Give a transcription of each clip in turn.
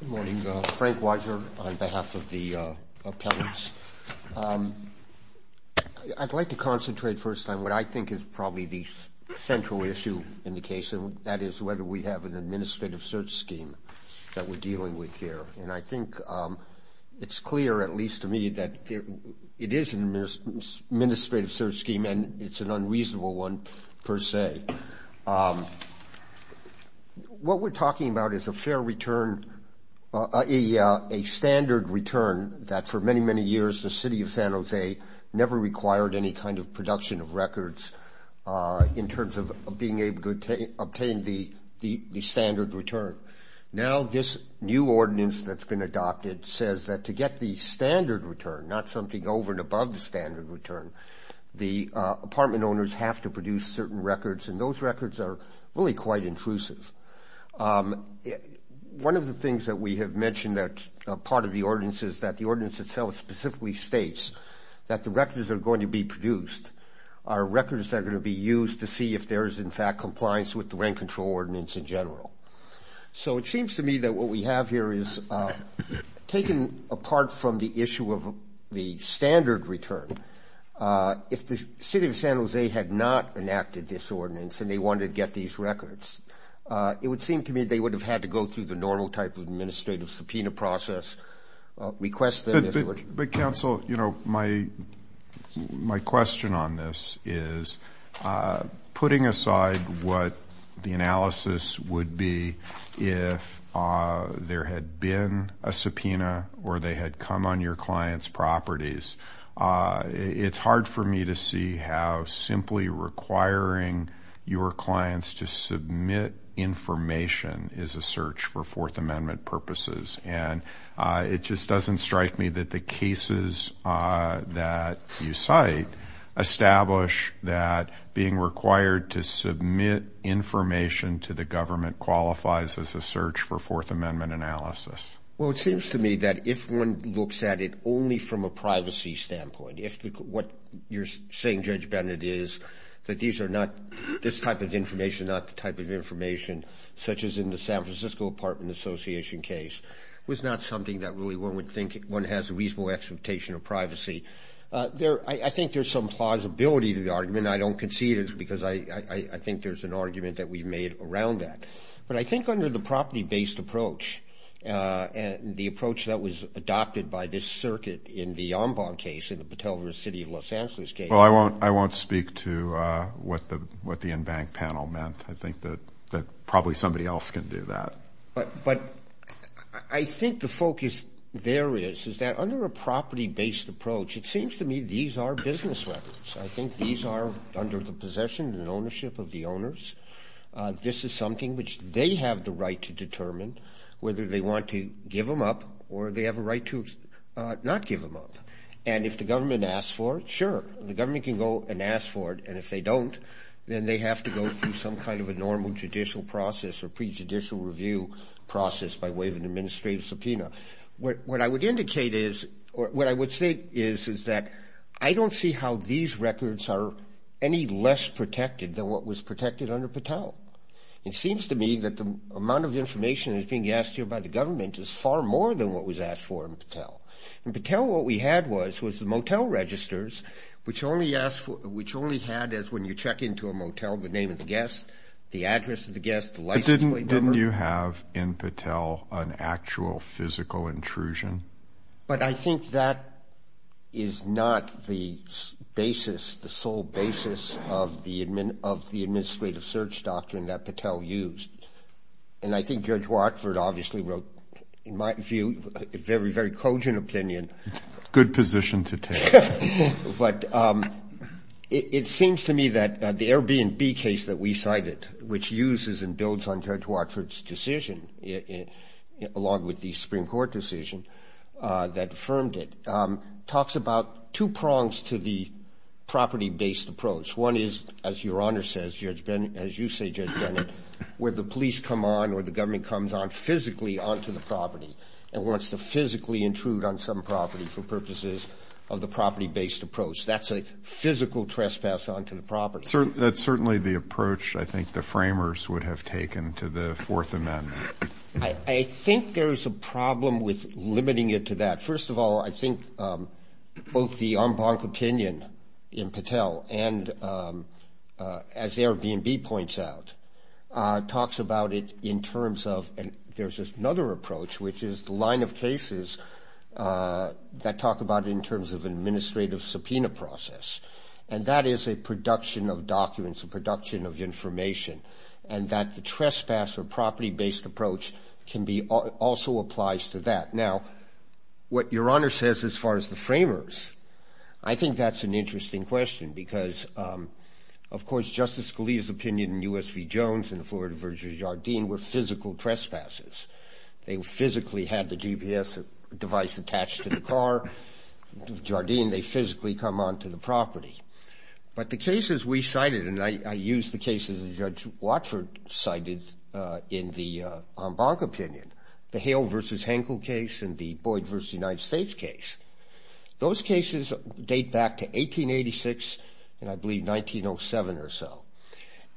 Good morning. Frank Washer on behalf of the appellants. I'd like to concentrate first on what I think is probably the central issue in the case, and that is whether we have an administrative search scheme that we're dealing with here. And I think it's clear, at least to me, that it is an administrative search scheme and it's an unreasonable one per se. What we're talking about is a fair return, a standard return that for many, many years the City of San Jose never required any kind of production of records in terms of being able to obtain the standard return. Now this new ordinance that's been adopted says that to get the standard return, not something over and above the standard return, the apartment owners have to produce certain records, and those records are really quite intrusive. One of the things that we have mentioned that part of the ordinance is that the ordinance itself specifically states that the records that are going to be produced are records that are going to be used to see if there is in fact compliance with the rent control ordinance in general. So it seems to me that what we have here is, taken apart from the issue of the standard return, if the City of San Jose had not enacted this ordinance and they wanted to get these records, it would seem to me they would have had to go through the normal type of administrative subpoena process, request them if they were... But Council, you know, my question on this is, putting aside what the analysis would be if there had been a subpoena or they had come on your client's properties, it's hard for me to see how simply requiring your clients to submit information is a search for Fourth Amendment purposes. And it just doesn't strike me that the cases that you cite establish that being required to submit information to the government qualifies as a search for Fourth Amendment analysis. Well, it seems to me that if one looks at it only from a privacy standpoint, if what you're saying, Judge Bennett, is that these are not this type of information, not the type of information, such as in the San Francisco Apartment Association case, was not something that really one would think one has a reasonable expectation of privacy. I think there's some plausibility to the argument, and I don't concede it because I think there's an argument that we've made around that. But I think under the property-based approach, the approach that was adopted by this circuit in the Ombong case, in the Patel versus City of Los Angeles case... And if the government asks for it, sure, the government can go and ask for it, and if they don't, then they have to go through some kind of a normal judicial process or prejudicial review process by way of an administrative subpoena. What I would say is that I don't see how these records are any less protected than what was protected under Patel. It seems to me that the amount of information that's being asked here by the government is far more than what was asked for in Patel. In Patel, what we had was the motel registers, which only had, when you check into a motel, the name of the guest, the address of the guest, the license plate number. Didn't you have, in Patel, an actual physical intrusion? But I think that is not the basis, the sole basis of the administrative search doctrine that Patel used. And I think Judge Watford obviously wrote, in my view, a very, very cogent opinion. Good position to take. But it seems to me that the Airbnb case that we cited, which uses and builds on Judge Watford's decision, along with the Supreme Court decision that affirmed it, talks about two prongs to the property-based approach. One is, as Your Honor says, Judge Bennett, as you say, Judge Bennett, where the police come on or the government comes on physically onto the property and wants to physically intrude on some property for purposes of the property-based approach. That's a physical trespass onto the property. That's certainly the approach I think the framers would have taken to the Fourth Amendment. I think there's a problem with limiting it to that. First of all, I think both the en banc opinion in Patel and, as Airbnb points out, talks about it in terms of, and there's another approach, which is the line of cases that talk about it in terms of an administrative subpoena process. And that is a production of documents, a production of information, and that the trespass or property-based approach can be also applies to that. Now, what Your Honor says as far as the framers, I think that's an interesting question because, of course, Justice Scalia's opinion in U.S. v. Jones and Florida v. Jardine were physical trespasses. They physically had the GPS device attached to the car. Jardine, they physically come onto the property. But the cases we cited, and I use the cases that Judge Watford cited in the en banc opinion, the Hale v. Henkel case and the Boyd v. United States case, those cases date back to 1886 and, I believe, 1907 or so.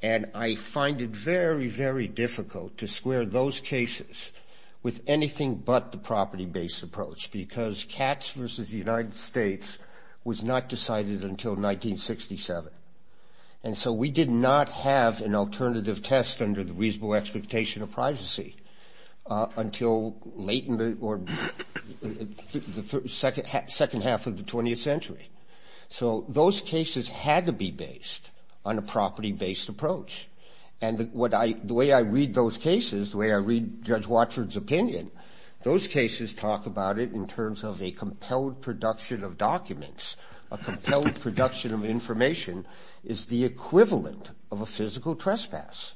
And I find it very, very difficult to square those cases with anything but the property-based approach because Katz v. United States was not decided until 1967. And so we did not have an alternative test under the reasonable expectation of privacy until late in the or the second half of the 20th century. So those cases had to be based on a property-based approach. And the way I read those cases, the way I read Judge Watford's opinion, those cases talk about it in terms of a compelled production of documents. A compelled production of information is the equivalent of a physical trespass.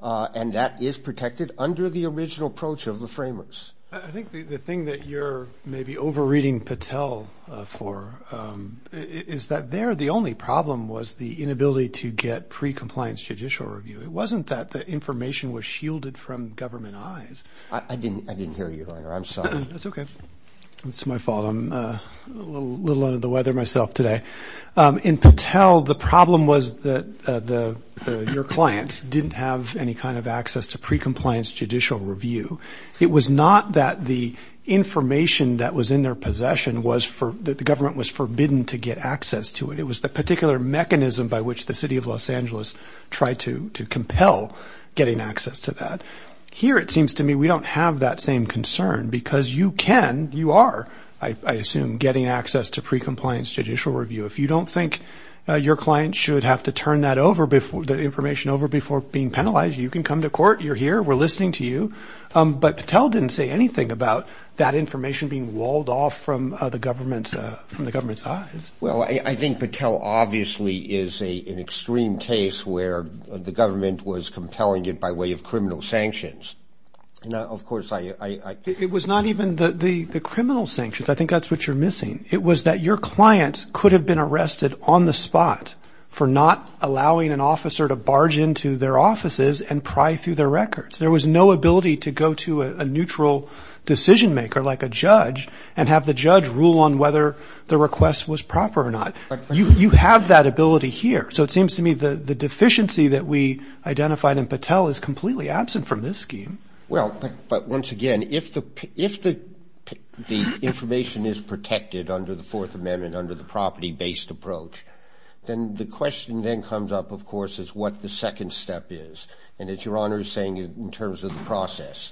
And that is protected under the original approach of the framers. I think the thing that you're maybe over-reading Patel for is that there the only problem was the inability to get pre-compliance judicial review. It wasn't that the information was shielded from government eyes. I didn't hear you, Your Honor. I'm sorry. That's okay. It's my fault. I'm a little under the weather myself today. In Patel, the problem was that your clients didn't have any kind of access to pre-compliance judicial review. It was not that the information that was in their possession was for the government was forbidden to get access to it. It was the particular mechanism by which the city of Los Angeles tried to compel getting access to that. Here, it seems to me, we don't have that same concern because you can. You are, I assume, getting access to pre-compliance judicial review. If you don't think your client should have to turn that over, the information over before being penalized, you can come to court. You're here. We're listening to you. But Patel didn't say anything about that information being walled off from the government's eyes. Well, I think Patel obviously is an extreme case where the government was compelling it by way of criminal sanctions. And, of course, I – It was not even the criminal sanctions. I think that's what you're missing. It was that your client could have been arrested on the spot for not allowing an officer to barge into their offices and pry through their records. There was no ability to go to a neutral decision-maker like a judge and have the judge rule on whether the request was proper or not. You have that ability here. So it seems to me the deficiency that we identified in Patel is completely absent from this scheme. Well, but once again, if the information is protected under the Fourth Amendment under the property-based approach, then the question then comes up, of course, is what the second step is. And it's Your Honor saying in terms of the process.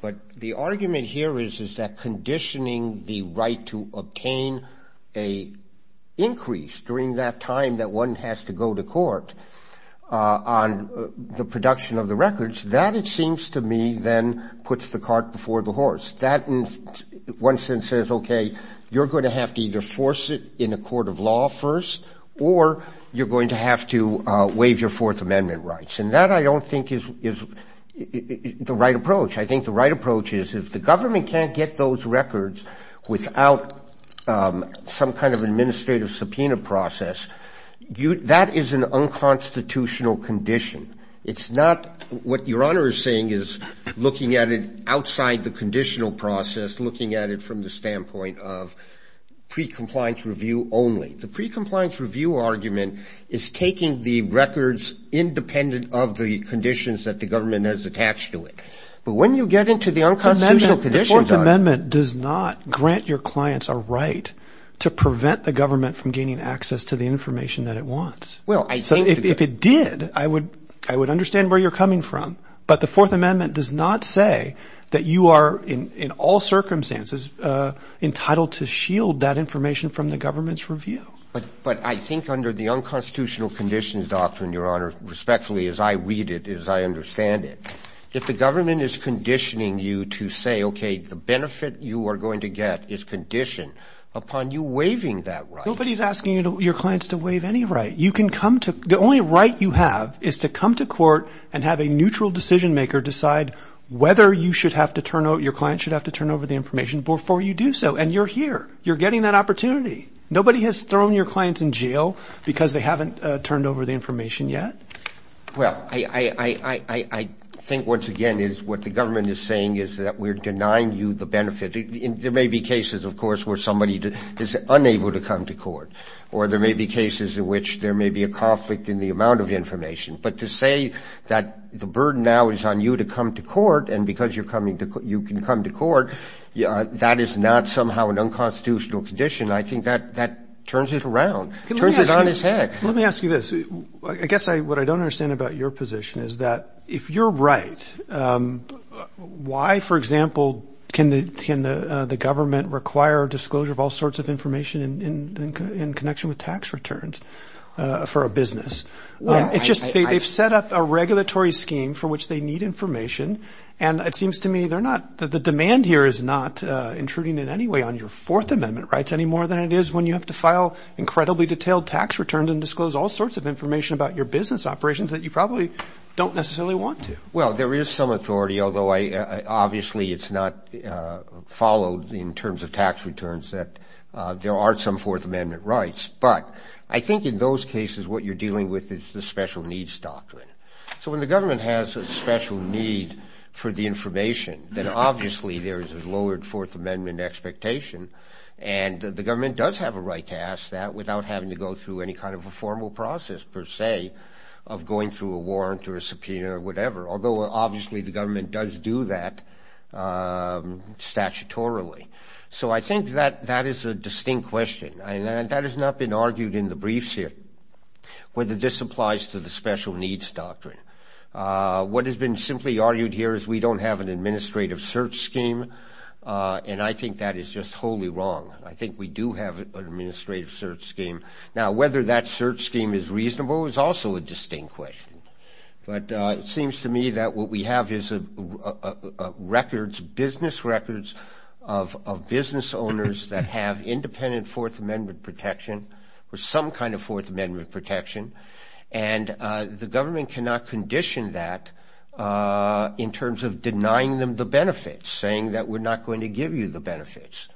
But the argument here is that conditioning the right to obtain an increase during that time that one has to go to court on the production of the records, that, it seems to me, then puts the cart before the horse. That, in one sense, says, okay, you're going to have to either force it in a court of law first or you're going to have to waive your Fourth Amendment rights. And that, I don't think, is the right approach. I think the right approach is if the government can't get those records without some kind of administrative subpoena process, that is an unconstitutional condition. It's not what Your Honor is saying is looking at it outside the conditional process, looking at it from the standpoint of pre-compliance review only. The pre-compliance review argument is taking the records independent of the conditions that the government has attached to it. But when you get into the unconstitutional condition, Your Honor. The Fourth Amendment does not grant your clients a right to prevent the government from gaining access to the information that it wants. If it did, I would understand where you're coming from. But the Fourth Amendment does not say that you are in all circumstances entitled to shield that information from the government's review. But I think under the unconstitutional conditions doctrine, Your Honor, respectfully, as I read it, as I understand it, if the government is conditioning you to say, okay, the benefit you are going to get is conditioned upon you waiving that right. Nobody is asking your clients to waive any right. The only right you have is to come to court and have a neutral decision maker decide whether your client should have to turn over the information before you do so. And you're here. You're getting that opportunity. Nobody has thrown your clients in jail because they haven't turned over the information yet. Well, I think, once again, what the government is saying is that we're denying you the benefit. There may be cases, of course, where somebody is unable to come to court. Or there may be cases in which there may be a conflict in the amount of information. But to say that the burden now is on you to come to court and because you can come to court, that is not somehow an unconstitutional condition. I think that turns it around, turns it on its head. Let me ask you this. I guess what I don't understand about your position is that if you're right, why, for example, can the government require disclosure of all sorts of information in connection with tax returns for a business? It's just they've set up a regulatory scheme for which they need information. And it seems to me they're not – the demand here is not intruding in any way on your Fourth Amendment rights any more than it is when you have to file incredibly detailed tax returns and disclose all sorts of information about your business operations that you probably don't necessarily want to. Well, there is some authority, although obviously it's not followed in terms of tax returns that there aren't some Fourth Amendment rights. But I think in those cases what you're dealing with is the special needs doctrine. So when the government has a special need for the information, then obviously there is a lowered Fourth Amendment expectation. And the government does have a right to ask that without having to go through any kind of a formal process, per se, of going through a warrant or a subpoena or whatever, although obviously the government does do that statutorily. So I think that that is a distinct question. And that has not been argued in the briefs here, whether this applies to the special needs doctrine. What has been simply argued here is we don't have an administrative search scheme, and I think that is just totally wrong. I think we do have an administrative search scheme. Now, whether that search scheme is reasonable is also a distinct question. But it seems to me that what we have is records, business records, of business owners that have independent Fourth Amendment protection or some kind of Fourth Amendment protection. And the government cannot condition that in terms of denying them the benefits, saying that we're not going to give you the benefits.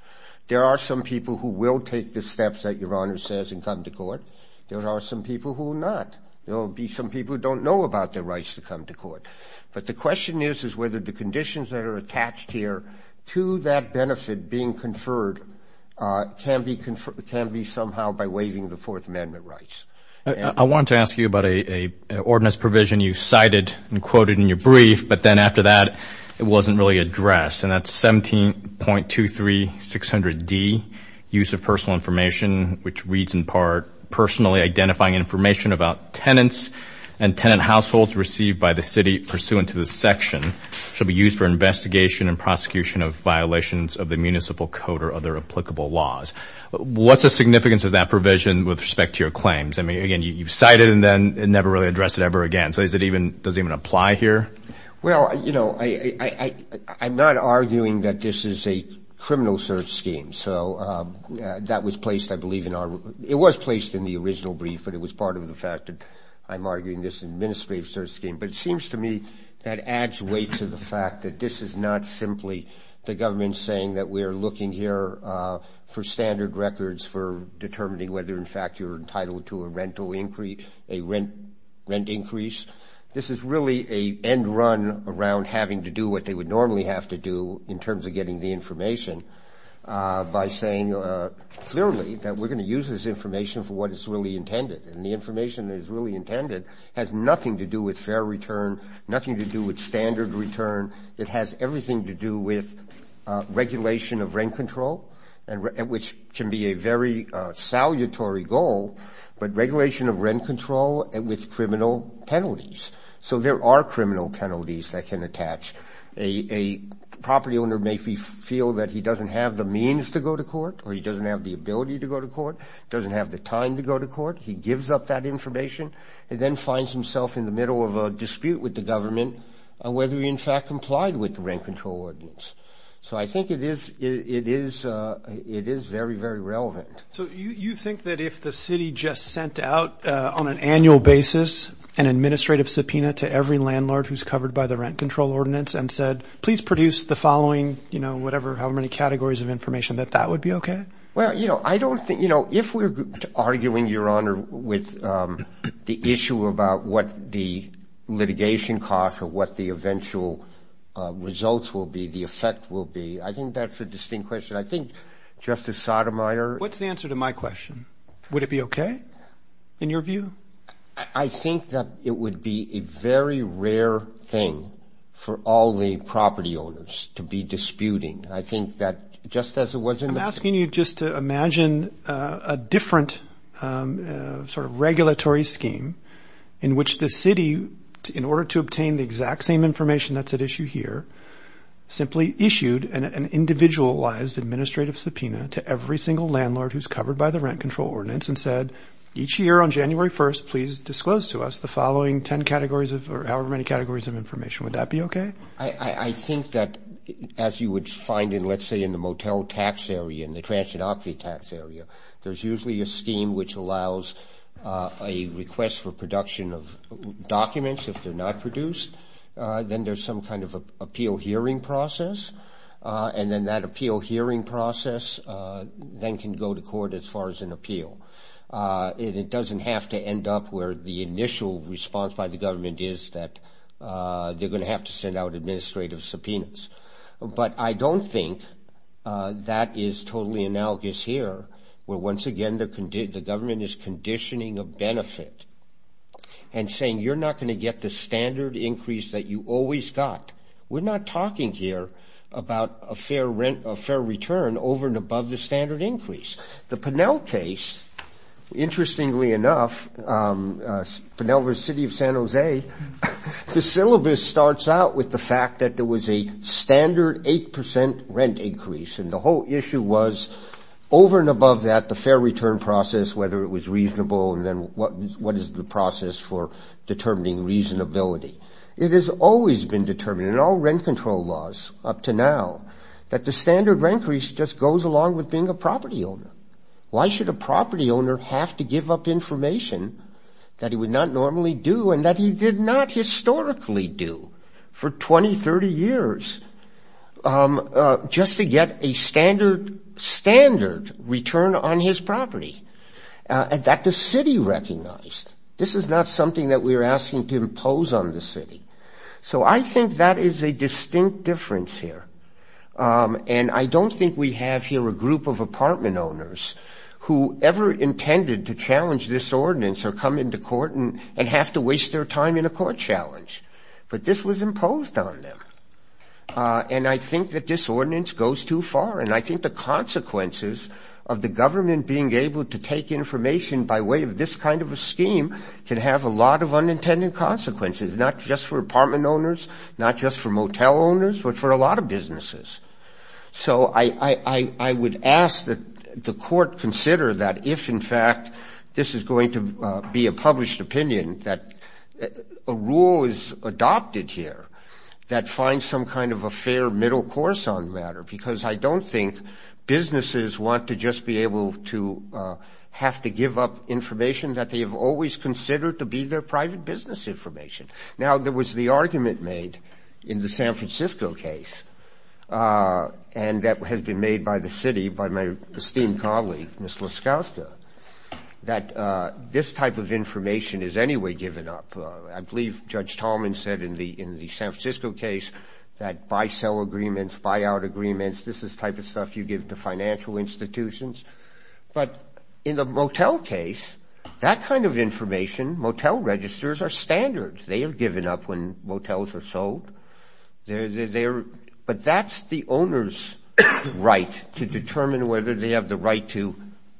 There are some people who will take the steps that Your Honor says and come to court. There are some people who will not. There will be some people who don't know about their rights to come to court. But the question is, is whether the conditions that are attached here to that benefit being conferred can be somehow by waiving the Fourth Amendment rights. I wanted to ask you about an ordinance provision you cited and quoted in your brief, but then after that it wasn't really addressed. And that's 17.23600D, use of personal information, which reads in part, personally identifying information about tenants and tenant households received by the city pursuant to this section shall be used for investigation and prosecution of violations of the municipal code or other applicable laws. What's the significance of that provision with respect to your claims? I mean, again, you've cited it and then never really addressed it ever again. So does it even apply here? Well, you know, I'm not arguing that this is a criminal search scheme. So that was placed, I believe, in our – it was placed in the original brief, but it was part of the fact that I'm arguing this administrative search scheme. But it seems to me that adds weight to the fact that this is not simply the government saying that we are looking here for standard records for determining whether, in fact, you're entitled to a rental increase, a rent increase. This is really an end run around having to do what they would normally have to do in terms of getting the information by saying clearly that we're going to use this information for what is really intended. And the information that is really intended has nothing to do with fair return, nothing to do with standard return. It has everything to do with regulation of rent control, which can be a very salutary goal, but regulation of rent control with criminal penalties. So there are criminal penalties that can attach. A property owner may feel that he doesn't have the means to go to court or he doesn't have the ability to go to court, doesn't have the time to go to court. He gives up that information and then finds himself in the middle of a dispute with the government on whether he, in fact, complied with the rent control ordinance. So I think it is very, very relevant. So you think that if the city just sent out on an annual basis an administrative subpoena to every landlord who's covered by the rent control ordinance and said, please produce the following, you know, whatever, however many categories of information, that that would be okay? Well, you know, I don't think, you know, if we're arguing, Your Honor, with the issue about what the litigation costs or what the eventual results will be, the effect will be, I think that's a distinct question. I think Justice Sotomayor. What's the answer to my question? Would it be okay in your view? I think that it would be a very rare thing for all the property owners to be disputing. I think that just as it was in the. I'm asking you just to imagine a different sort of regulatory scheme in which the city, in order to obtain the exact same information that's at issue here, simply issued an individualized administrative subpoena to every single landlord who's covered by the rent control ordinance and said, each year on January 1st, please disclose to us the following 10 categories or however many categories of information. Would that be okay? I think that, as you would find in, let's say, in the motel tax area, in the transidocracy tax area, there's usually a scheme which allows a request for production of documents. If they're not produced, then there's some kind of appeal hearing process, and then that appeal hearing process then can go to court as far as an appeal. It doesn't have to end up where the initial response by the government is that they're going to have to send out administrative subpoenas. But I don't think that is totally analogous here where, once again, the government is conditioning a benefit and saying, you're not going to get the standard increase that you always got. We're not talking here about a fair return over and above the standard increase. The Pinell case, interestingly enough, Pinell versus City of San Jose, the syllabus starts out with the fact that there was a standard 8 percent rent increase, and the whole issue was, over and above that, the fair return process, whether it was reasonable, and then what is the process for determining reasonability. It has always been determined in all rent control laws up to now that the standard increase just goes along with being a property owner. Why should a property owner have to give up information that he would not normally do and that he did not historically do for 20, 30 years just to get a standard return on his property that the city recognized? This is not something that we're asking to impose on the city. So I think that is a distinct difference here. And I don't think we have here a group of apartment owners who ever intended to challenge this ordinance or come into court and have to waste their time in a court challenge. But this was imposed on them. And I think that this ordinance goes too far, and I think the consequences of the government being able to take information by way of this kind of a scheme can have a lot of unintended consequences, not just for apartment owners, not just for motel owners, but for a lot of businesses. So I would ask that the court consider that if, in fact, this is going to be a published opinion, that a rule is adopted here that finds some kind of a fair middle course on the matter, because I don't think businesses want to just be able to have to give up information that they have always considered to be their private business information. Now, there was the argument made in the San Francisco case, and that has been made by the city by my esteemed colleague, Ms. Laskowska, that this type of information is anyway given up. I believe Judge Tallman said in the San Francisco case that buy-sell agreements, buy-out agreements, this is the type of stuff you give to financial institutions. But in the motel case, that kind of information, motel registers are standard. They are given up when motels are sold. But that's the owner's right to determine whether they have the right to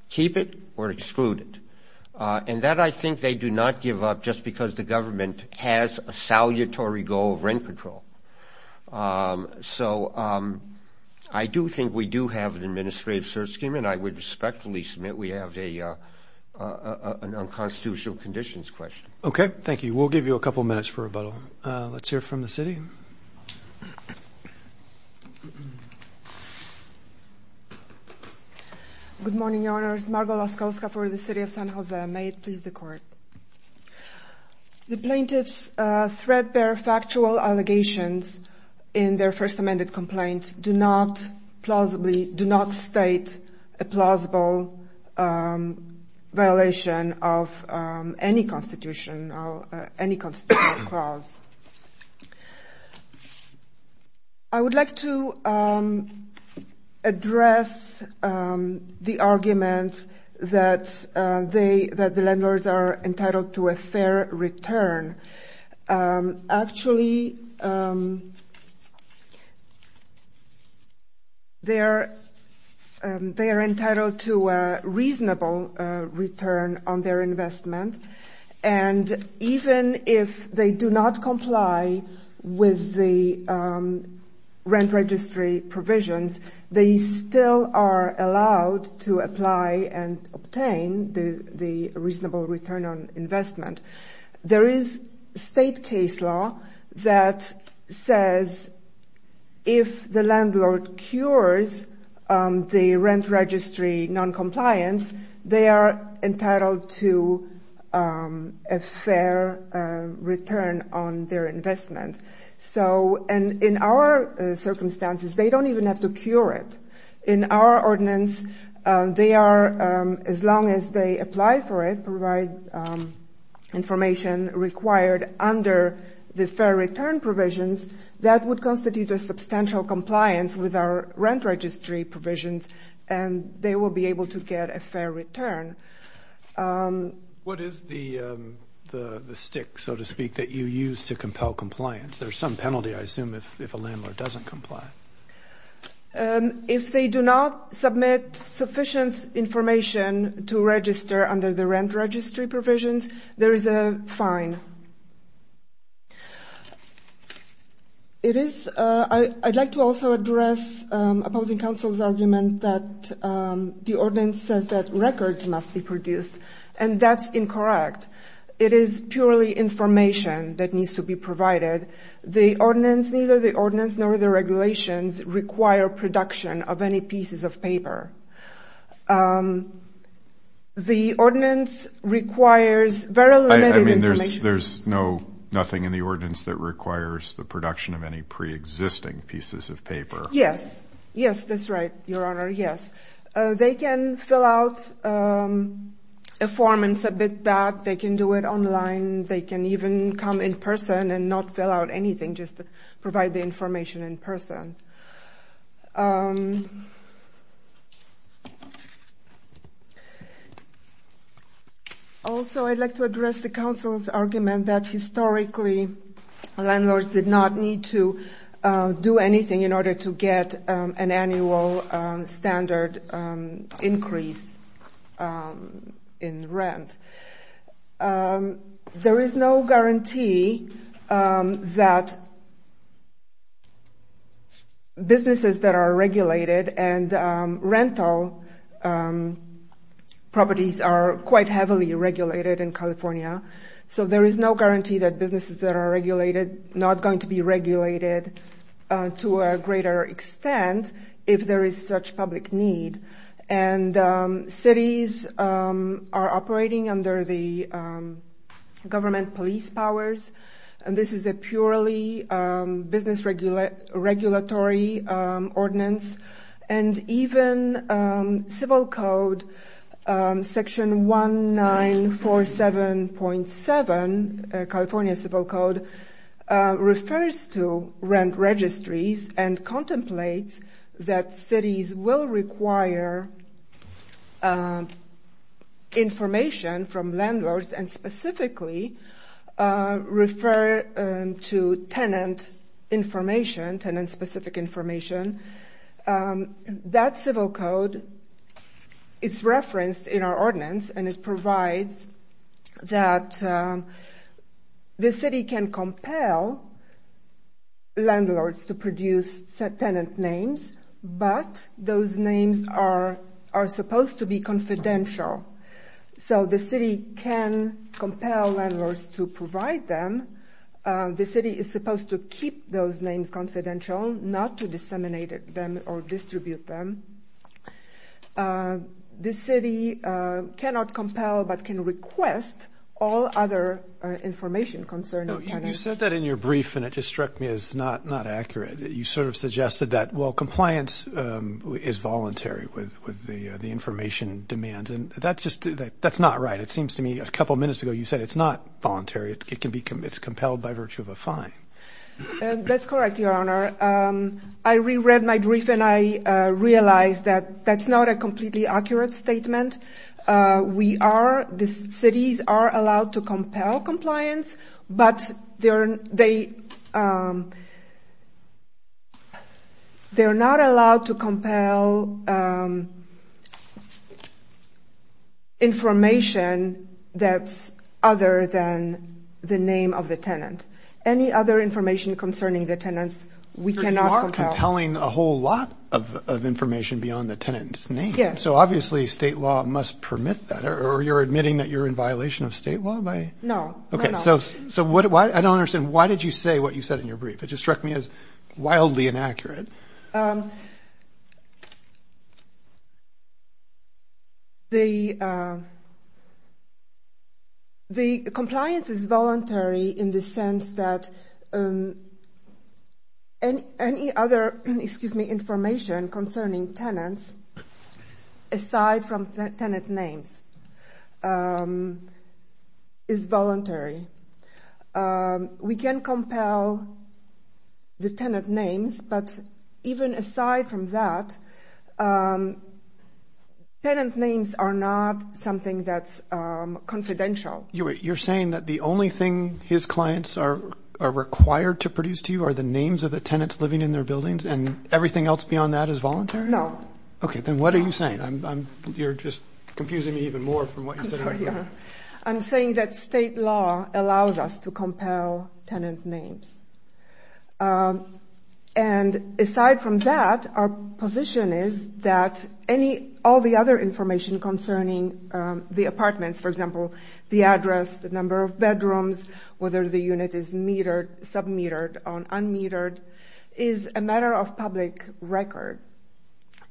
keep it or exclude it. And that I think they do not give up just because the government has a salutary goal of rent control. So I do think we do have an administrative search scheme, and I would respectfully submit we have an unconstitutional conditions question. Okay, thank you. We'll give you a couple of minutes for rebuttal. Let's hear from the city. Good morning, Your Honors. Margo Laskowska for the city of San Jose. May it please the Court. The plaintiff's threat-bearer factual allegations in their first amended complaint do not state a plausible violation of any constitutional clause. I would like to address the argument that the landlords are entitled to a fair return. Actually, they are entitled to a reasonable return on their investment, and even if they do not comply with the rent registry provisions, they still are allowed to apply and obtain the reasonable return on investment. There is state case law that says if the landlord cures the rent registry noncompliance, they are entitled to a fair return on their investment. So in our circumstances, they don't even have to cure it. In our ordinance, they are, as long as they apply for it, provide information required under the fair return provisions, that would constitute a substantial compliance with our rent registry provisions, and they will be able to get a fair return. What is the stick, so to speak, that you use to compel compliance? There's some penalty, I assume, if a landlord doesn't comply. If they do not submit sufficient information to register under the rent registry provisions, there is a fine. I'd like to also address opposing counsel's argument that the ordinance says that records must be produced, and that's incorrect. It is purely information that needs to be provided. The ordinance, neither the ordinance nor the regulations require production of any pieces of paper. The ordinance requires very limited information. I mean, there's nothing in the ordinance that requires the production of any preexisting pieces of paper. Yes, yes, that's right, Your Honor, yes. They can fill out a form and submit that. They can do it online. They can even come in person and not fill out anything, just provide the information in person. Also, I'd like to address the counsel's argument that, historically, landlords did not need to do anything in order to get an annual standard increase in rent. There is no guarantee that businesses that are regulated and rental properties are quite heavily regulated in California. So there is no guarantee that businesses that are regulated are not going to be regulated to a greater extent if there is such public need. And cities are operating under the government police powers. This is a purely business regulatory ordinance. And even Civil Code Section 1947.7, California Civil Code, refers to rent registries and contemplates that cities will require information from landlords and specifically refer to tenant information, tenant-specific information, and that civil code is referenced in our ordinance and it provides that the city can compel landlords to produce tenant names, but those names are supposed to be confidential. So the city can compel landlords to provide them. The city is supposed to keep those names confidential, not to disseminate them or distribute them. The city cannot compel but can request all other information concerning tenants. You said that in your brief and it just struck me as not accurate. You sort of suggested that, well, compliance is voluntary with the information demands, and that's not right. It seems to me a couple of minutes ago you said it's not voluntary. It's compelled by virtue of a fine. That's correct, Your Honor. I reread my brief and I realized that that's not a completely accurate statement. We are, the cities are allowed to compel compliance, but they're not allowed to compel information. That's other than the name of the tenant. Any other information concerning the tenants we cannot compel. You are compelling a whole lot of information beyond the tenant's name. Yes. So obviously state law must permit that, or you're admitting that you're in violation of state law? No, no, no. Okay, so I don't understand. Why did you say what you said in your brief? It just struck me as wildly inaccurate. The compliance is voluntary in the sense that any other, excuse me, information concerning tenants aside from tenant names. We can compel the tenant names, but even aside from that, tenant names are not something that's confidential. You're saying that the only thing his clients are required to produce to you are the names of the tenants living in their buildings, and everything else beyond that is voluntary? No. Okay, then what are you saying? You're just confusing me even more from what you said earlier. I'm saying that state law allows us to compel tenant names. And aside from that, our position is that all the other information concerning the apartments, for example, the address, the number of bedrooms, whether the unit is metered, sub-metered, or un-metered, is a matter of public record.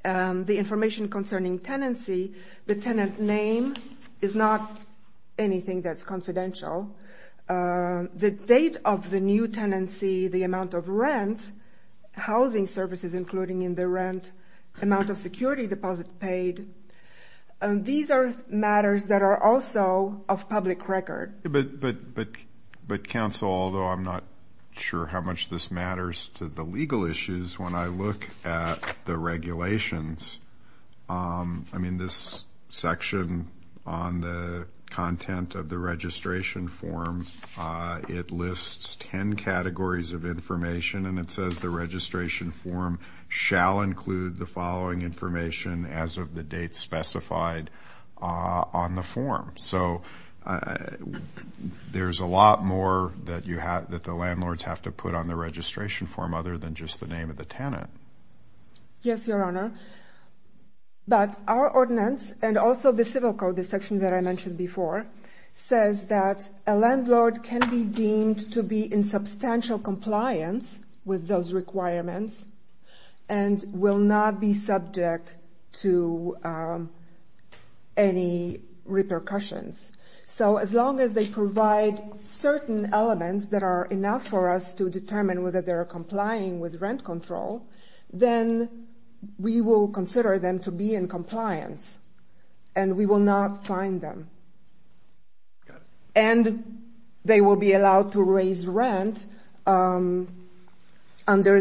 The information concerning tenancy, the tenant name is not anything that's confidential. The date of the new tenancy, the amount of rent, housing services including in the rent, the amount of security deposit paid, these are matters that are also of public record. But, counsel, although I'm not sure how much this matters to the legal issues, when I look at the regulations, I mean, this section on the content of the registration form, it lists ten categories of information, and it says the registration form shall include the following information as of the date specified on the form. So there's a lot more that the landlords have to put on the registration form other than just the name of the tenant. Yes, Your Honor. But our ordinance, and also the civil code, the section that I mentioned before, says that a landlord can be deemed to be in substantial compliance with those requirements, and will not be subject to any repercussions. So as long as they provide certain elements that are enough for us to determine whether they are complying with rent control, then they are subject to those requirements. Then we will consider them to be in compliance, and we will not fine them. And they will be allowed to raise rent under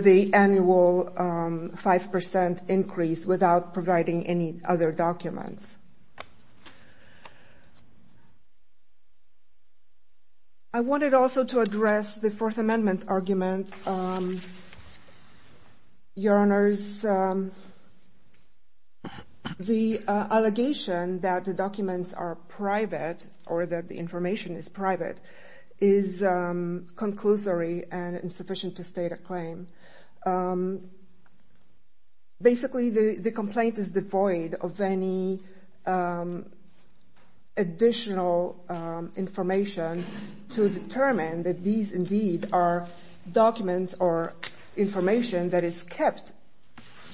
the annual 5% increase without providing any other documents. I wanted also to address the Fourth Amendment argument, Your Honors. The allegation that the documents are private, or that the information is private, is conclusory and insufficient to state a claim. Basically, the complaint is devoid of any additional information to determine that these indeed are documents or information that is kept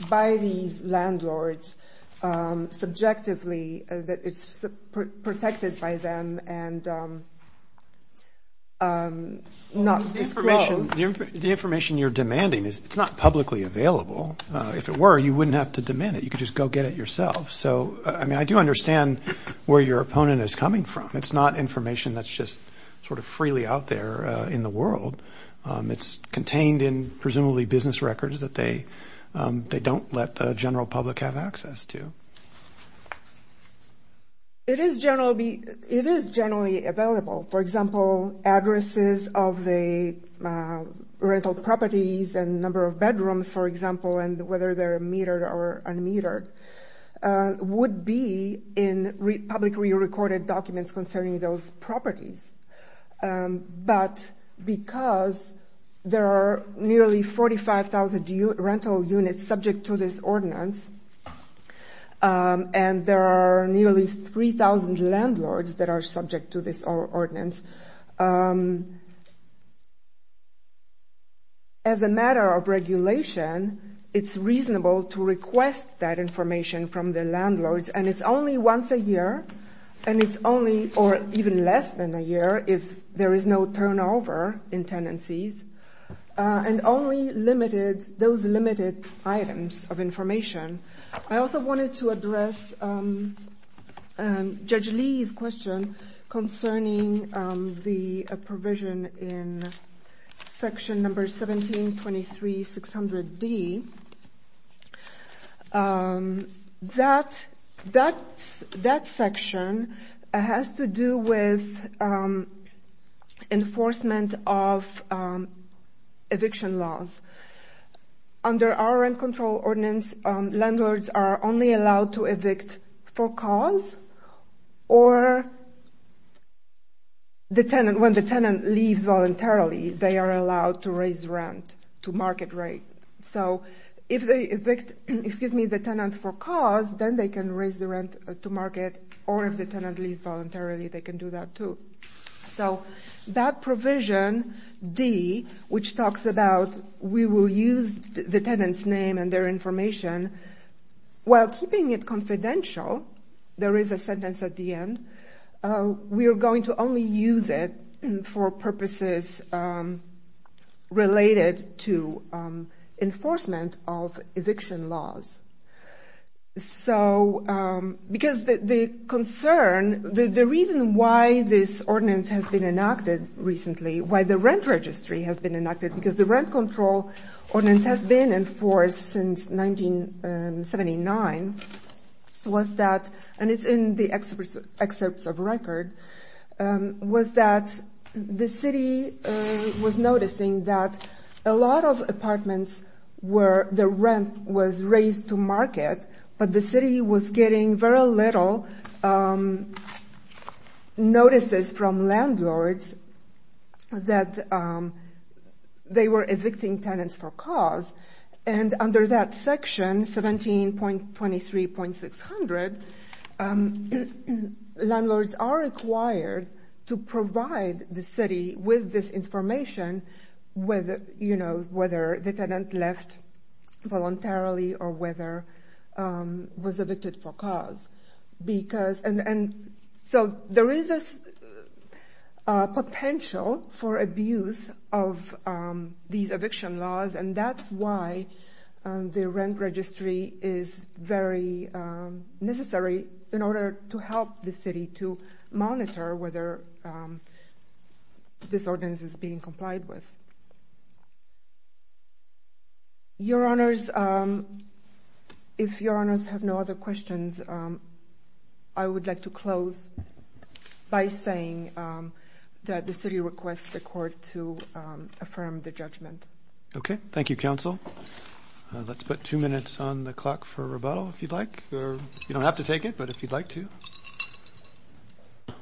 by these landlords subjectively, that is protected by them and not disclosed. The information you're demanding is not publicly available. If it were, you wouldn't have to demand it. You could just go get it yourself. I do understand where your opponent is coming from. It's not information that's just sort of freely out there in the world. It's contained in presumably business records that they don't let the general public have access to. It is generally available. For example, addresses of the rental properties and number of bedrooms, for example, and whether they're metered or unmetered, would be in publicly recorded documents concerning those properties. But because there are nearly 45,000 rental units subject to this ordinance, and there is no way for the landlord to have access to those properties, there is no way for the landlord to have access to those properties. And there are nearly 3,000 landlords that are subject to this ordinance. As a matter of regulation, it's reasonable to request that information from the landlords. And it's only once a year, and it's only or even less than a year if there is no turnover in tenancies. And only limited, those limited items of information. I also wanted to address Judge Lee's question concerning the provision in Section No. 17-23-600-D. That section has to do with enforcement of any kind of lawful or unlawful use of property. So, for example, under our rent control ordinance, landlords are only allowed to evict for cause, or when the tenant leaves voluntarily, they are allowed to raise rent to market rate. So, if they evict the tenant for cause, then they can raise the rent to market, or if the tenant leaves voluntarily, they can do that, too. So, that provision, D, which talks about we will use the tenant's name and their information, while keeping it confidential, there is a sentence at the end, we are going to only use it for purposes related to enforcement of eviction laws. So, because the concern, the reason why this ordinance has been enacted recently, why the rent registry has been enacted, because the rent control ordinance has been enforced since 1979, was that, and it's in the excerpts of record, was that the city was noticing that a lot of apartments where the rent was raised to market rate, but the city was getting very little notices from landlords that they were evicting tenants for cause, and under that section, 17.23.600, landlords are required to provide the city with this information, whether the tenant left voluntarily or whether was evicted for cause. And so, there is this potential for abuse of these eviction laws, and that's why the rent registry is very necessary in order to help the city to monitor whether this ordinance is being complied with. Your honors, if your honors have no other questions, I would like to close by saying that the city requests the court to affirm the judgment. Okay. Thank you, counsel. Let's put two minutes on the clock for rebuttal, if you'd like, or you don't have to take it, but if you'd like to.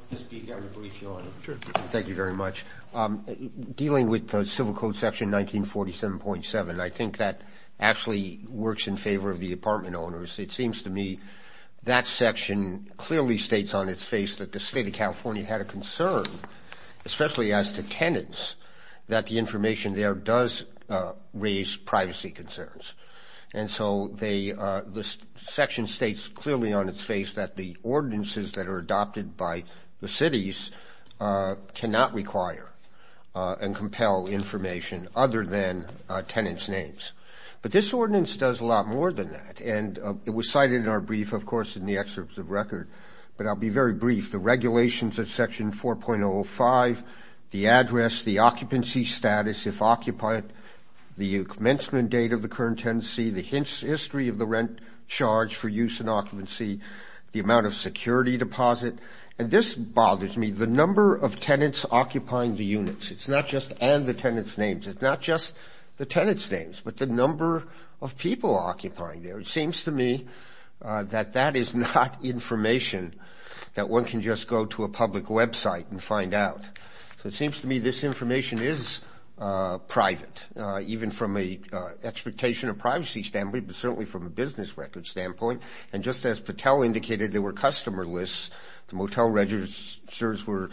I'll speak on the brief, your honor. Thank you very much. Dealing with the civil code section 1947.7, I think that actually works in favor of the apartment owners. It seems to me that section clearly states on its face that the state of California had a concern, especially as to tenants, that the information there does raise privacy concerns. And so, the section states clearly on its face that the ordinances that are adopted by the cities cannot require and compel information other than tenants' names. But this ordinance does a lot more than that, and it was cited in our brief, of course, in the excerpts of record. But I'll be very brief. The regulations of section 4.05, the address, the occupancy status, if occupied, the commencement date of the current tenancy, the history of the rent charge for use in occupancy, the amount of security deposit. And this bothers me, the number of tenants occupying the units. It's not just and the tenants' names. It's not just the tenants' names, but the number of people occupying there. It seems to me that that is not information that one can just go to a public website and find out. So it seems to me this information is private, even from an expectation of privacy standpoint, but certainly from a business record standpoint. And just as Patel indicated, there were customer lists. The motel registers were,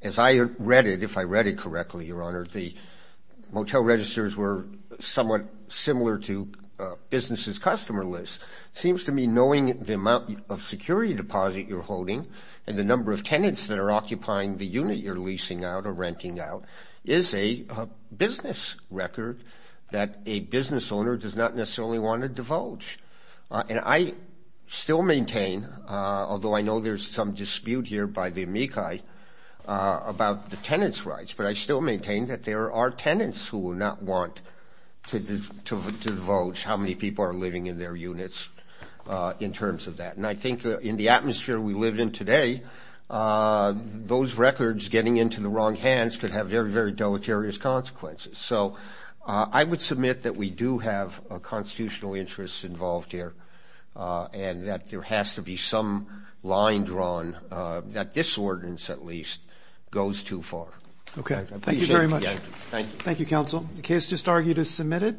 as I read it, if I read it correctly, Your Honor, the motel registers were somewhat similar to businesses' customer lists. It seems to me knowing the amount of security deposit you're holding and the number of tenants that are occupying the unit you're leasing out or renting out is a business record that a business owner does not necessarily want to divulge. And I still maintain, although I know there's some dispute here by the amici about the tenants' rights, but I still maintain that there are tenants who will not want to divulge how many people are living in their units in terms of that. And I think in the atmosphere we live in today, those records getting into the wrong hands could have very, very deleterious consequences. So I would submit that we do have a constitutional interest involved here and that there has to be some line drawn that this ordinance, at least, goes too far. Okay. Thank you very much. Thank you.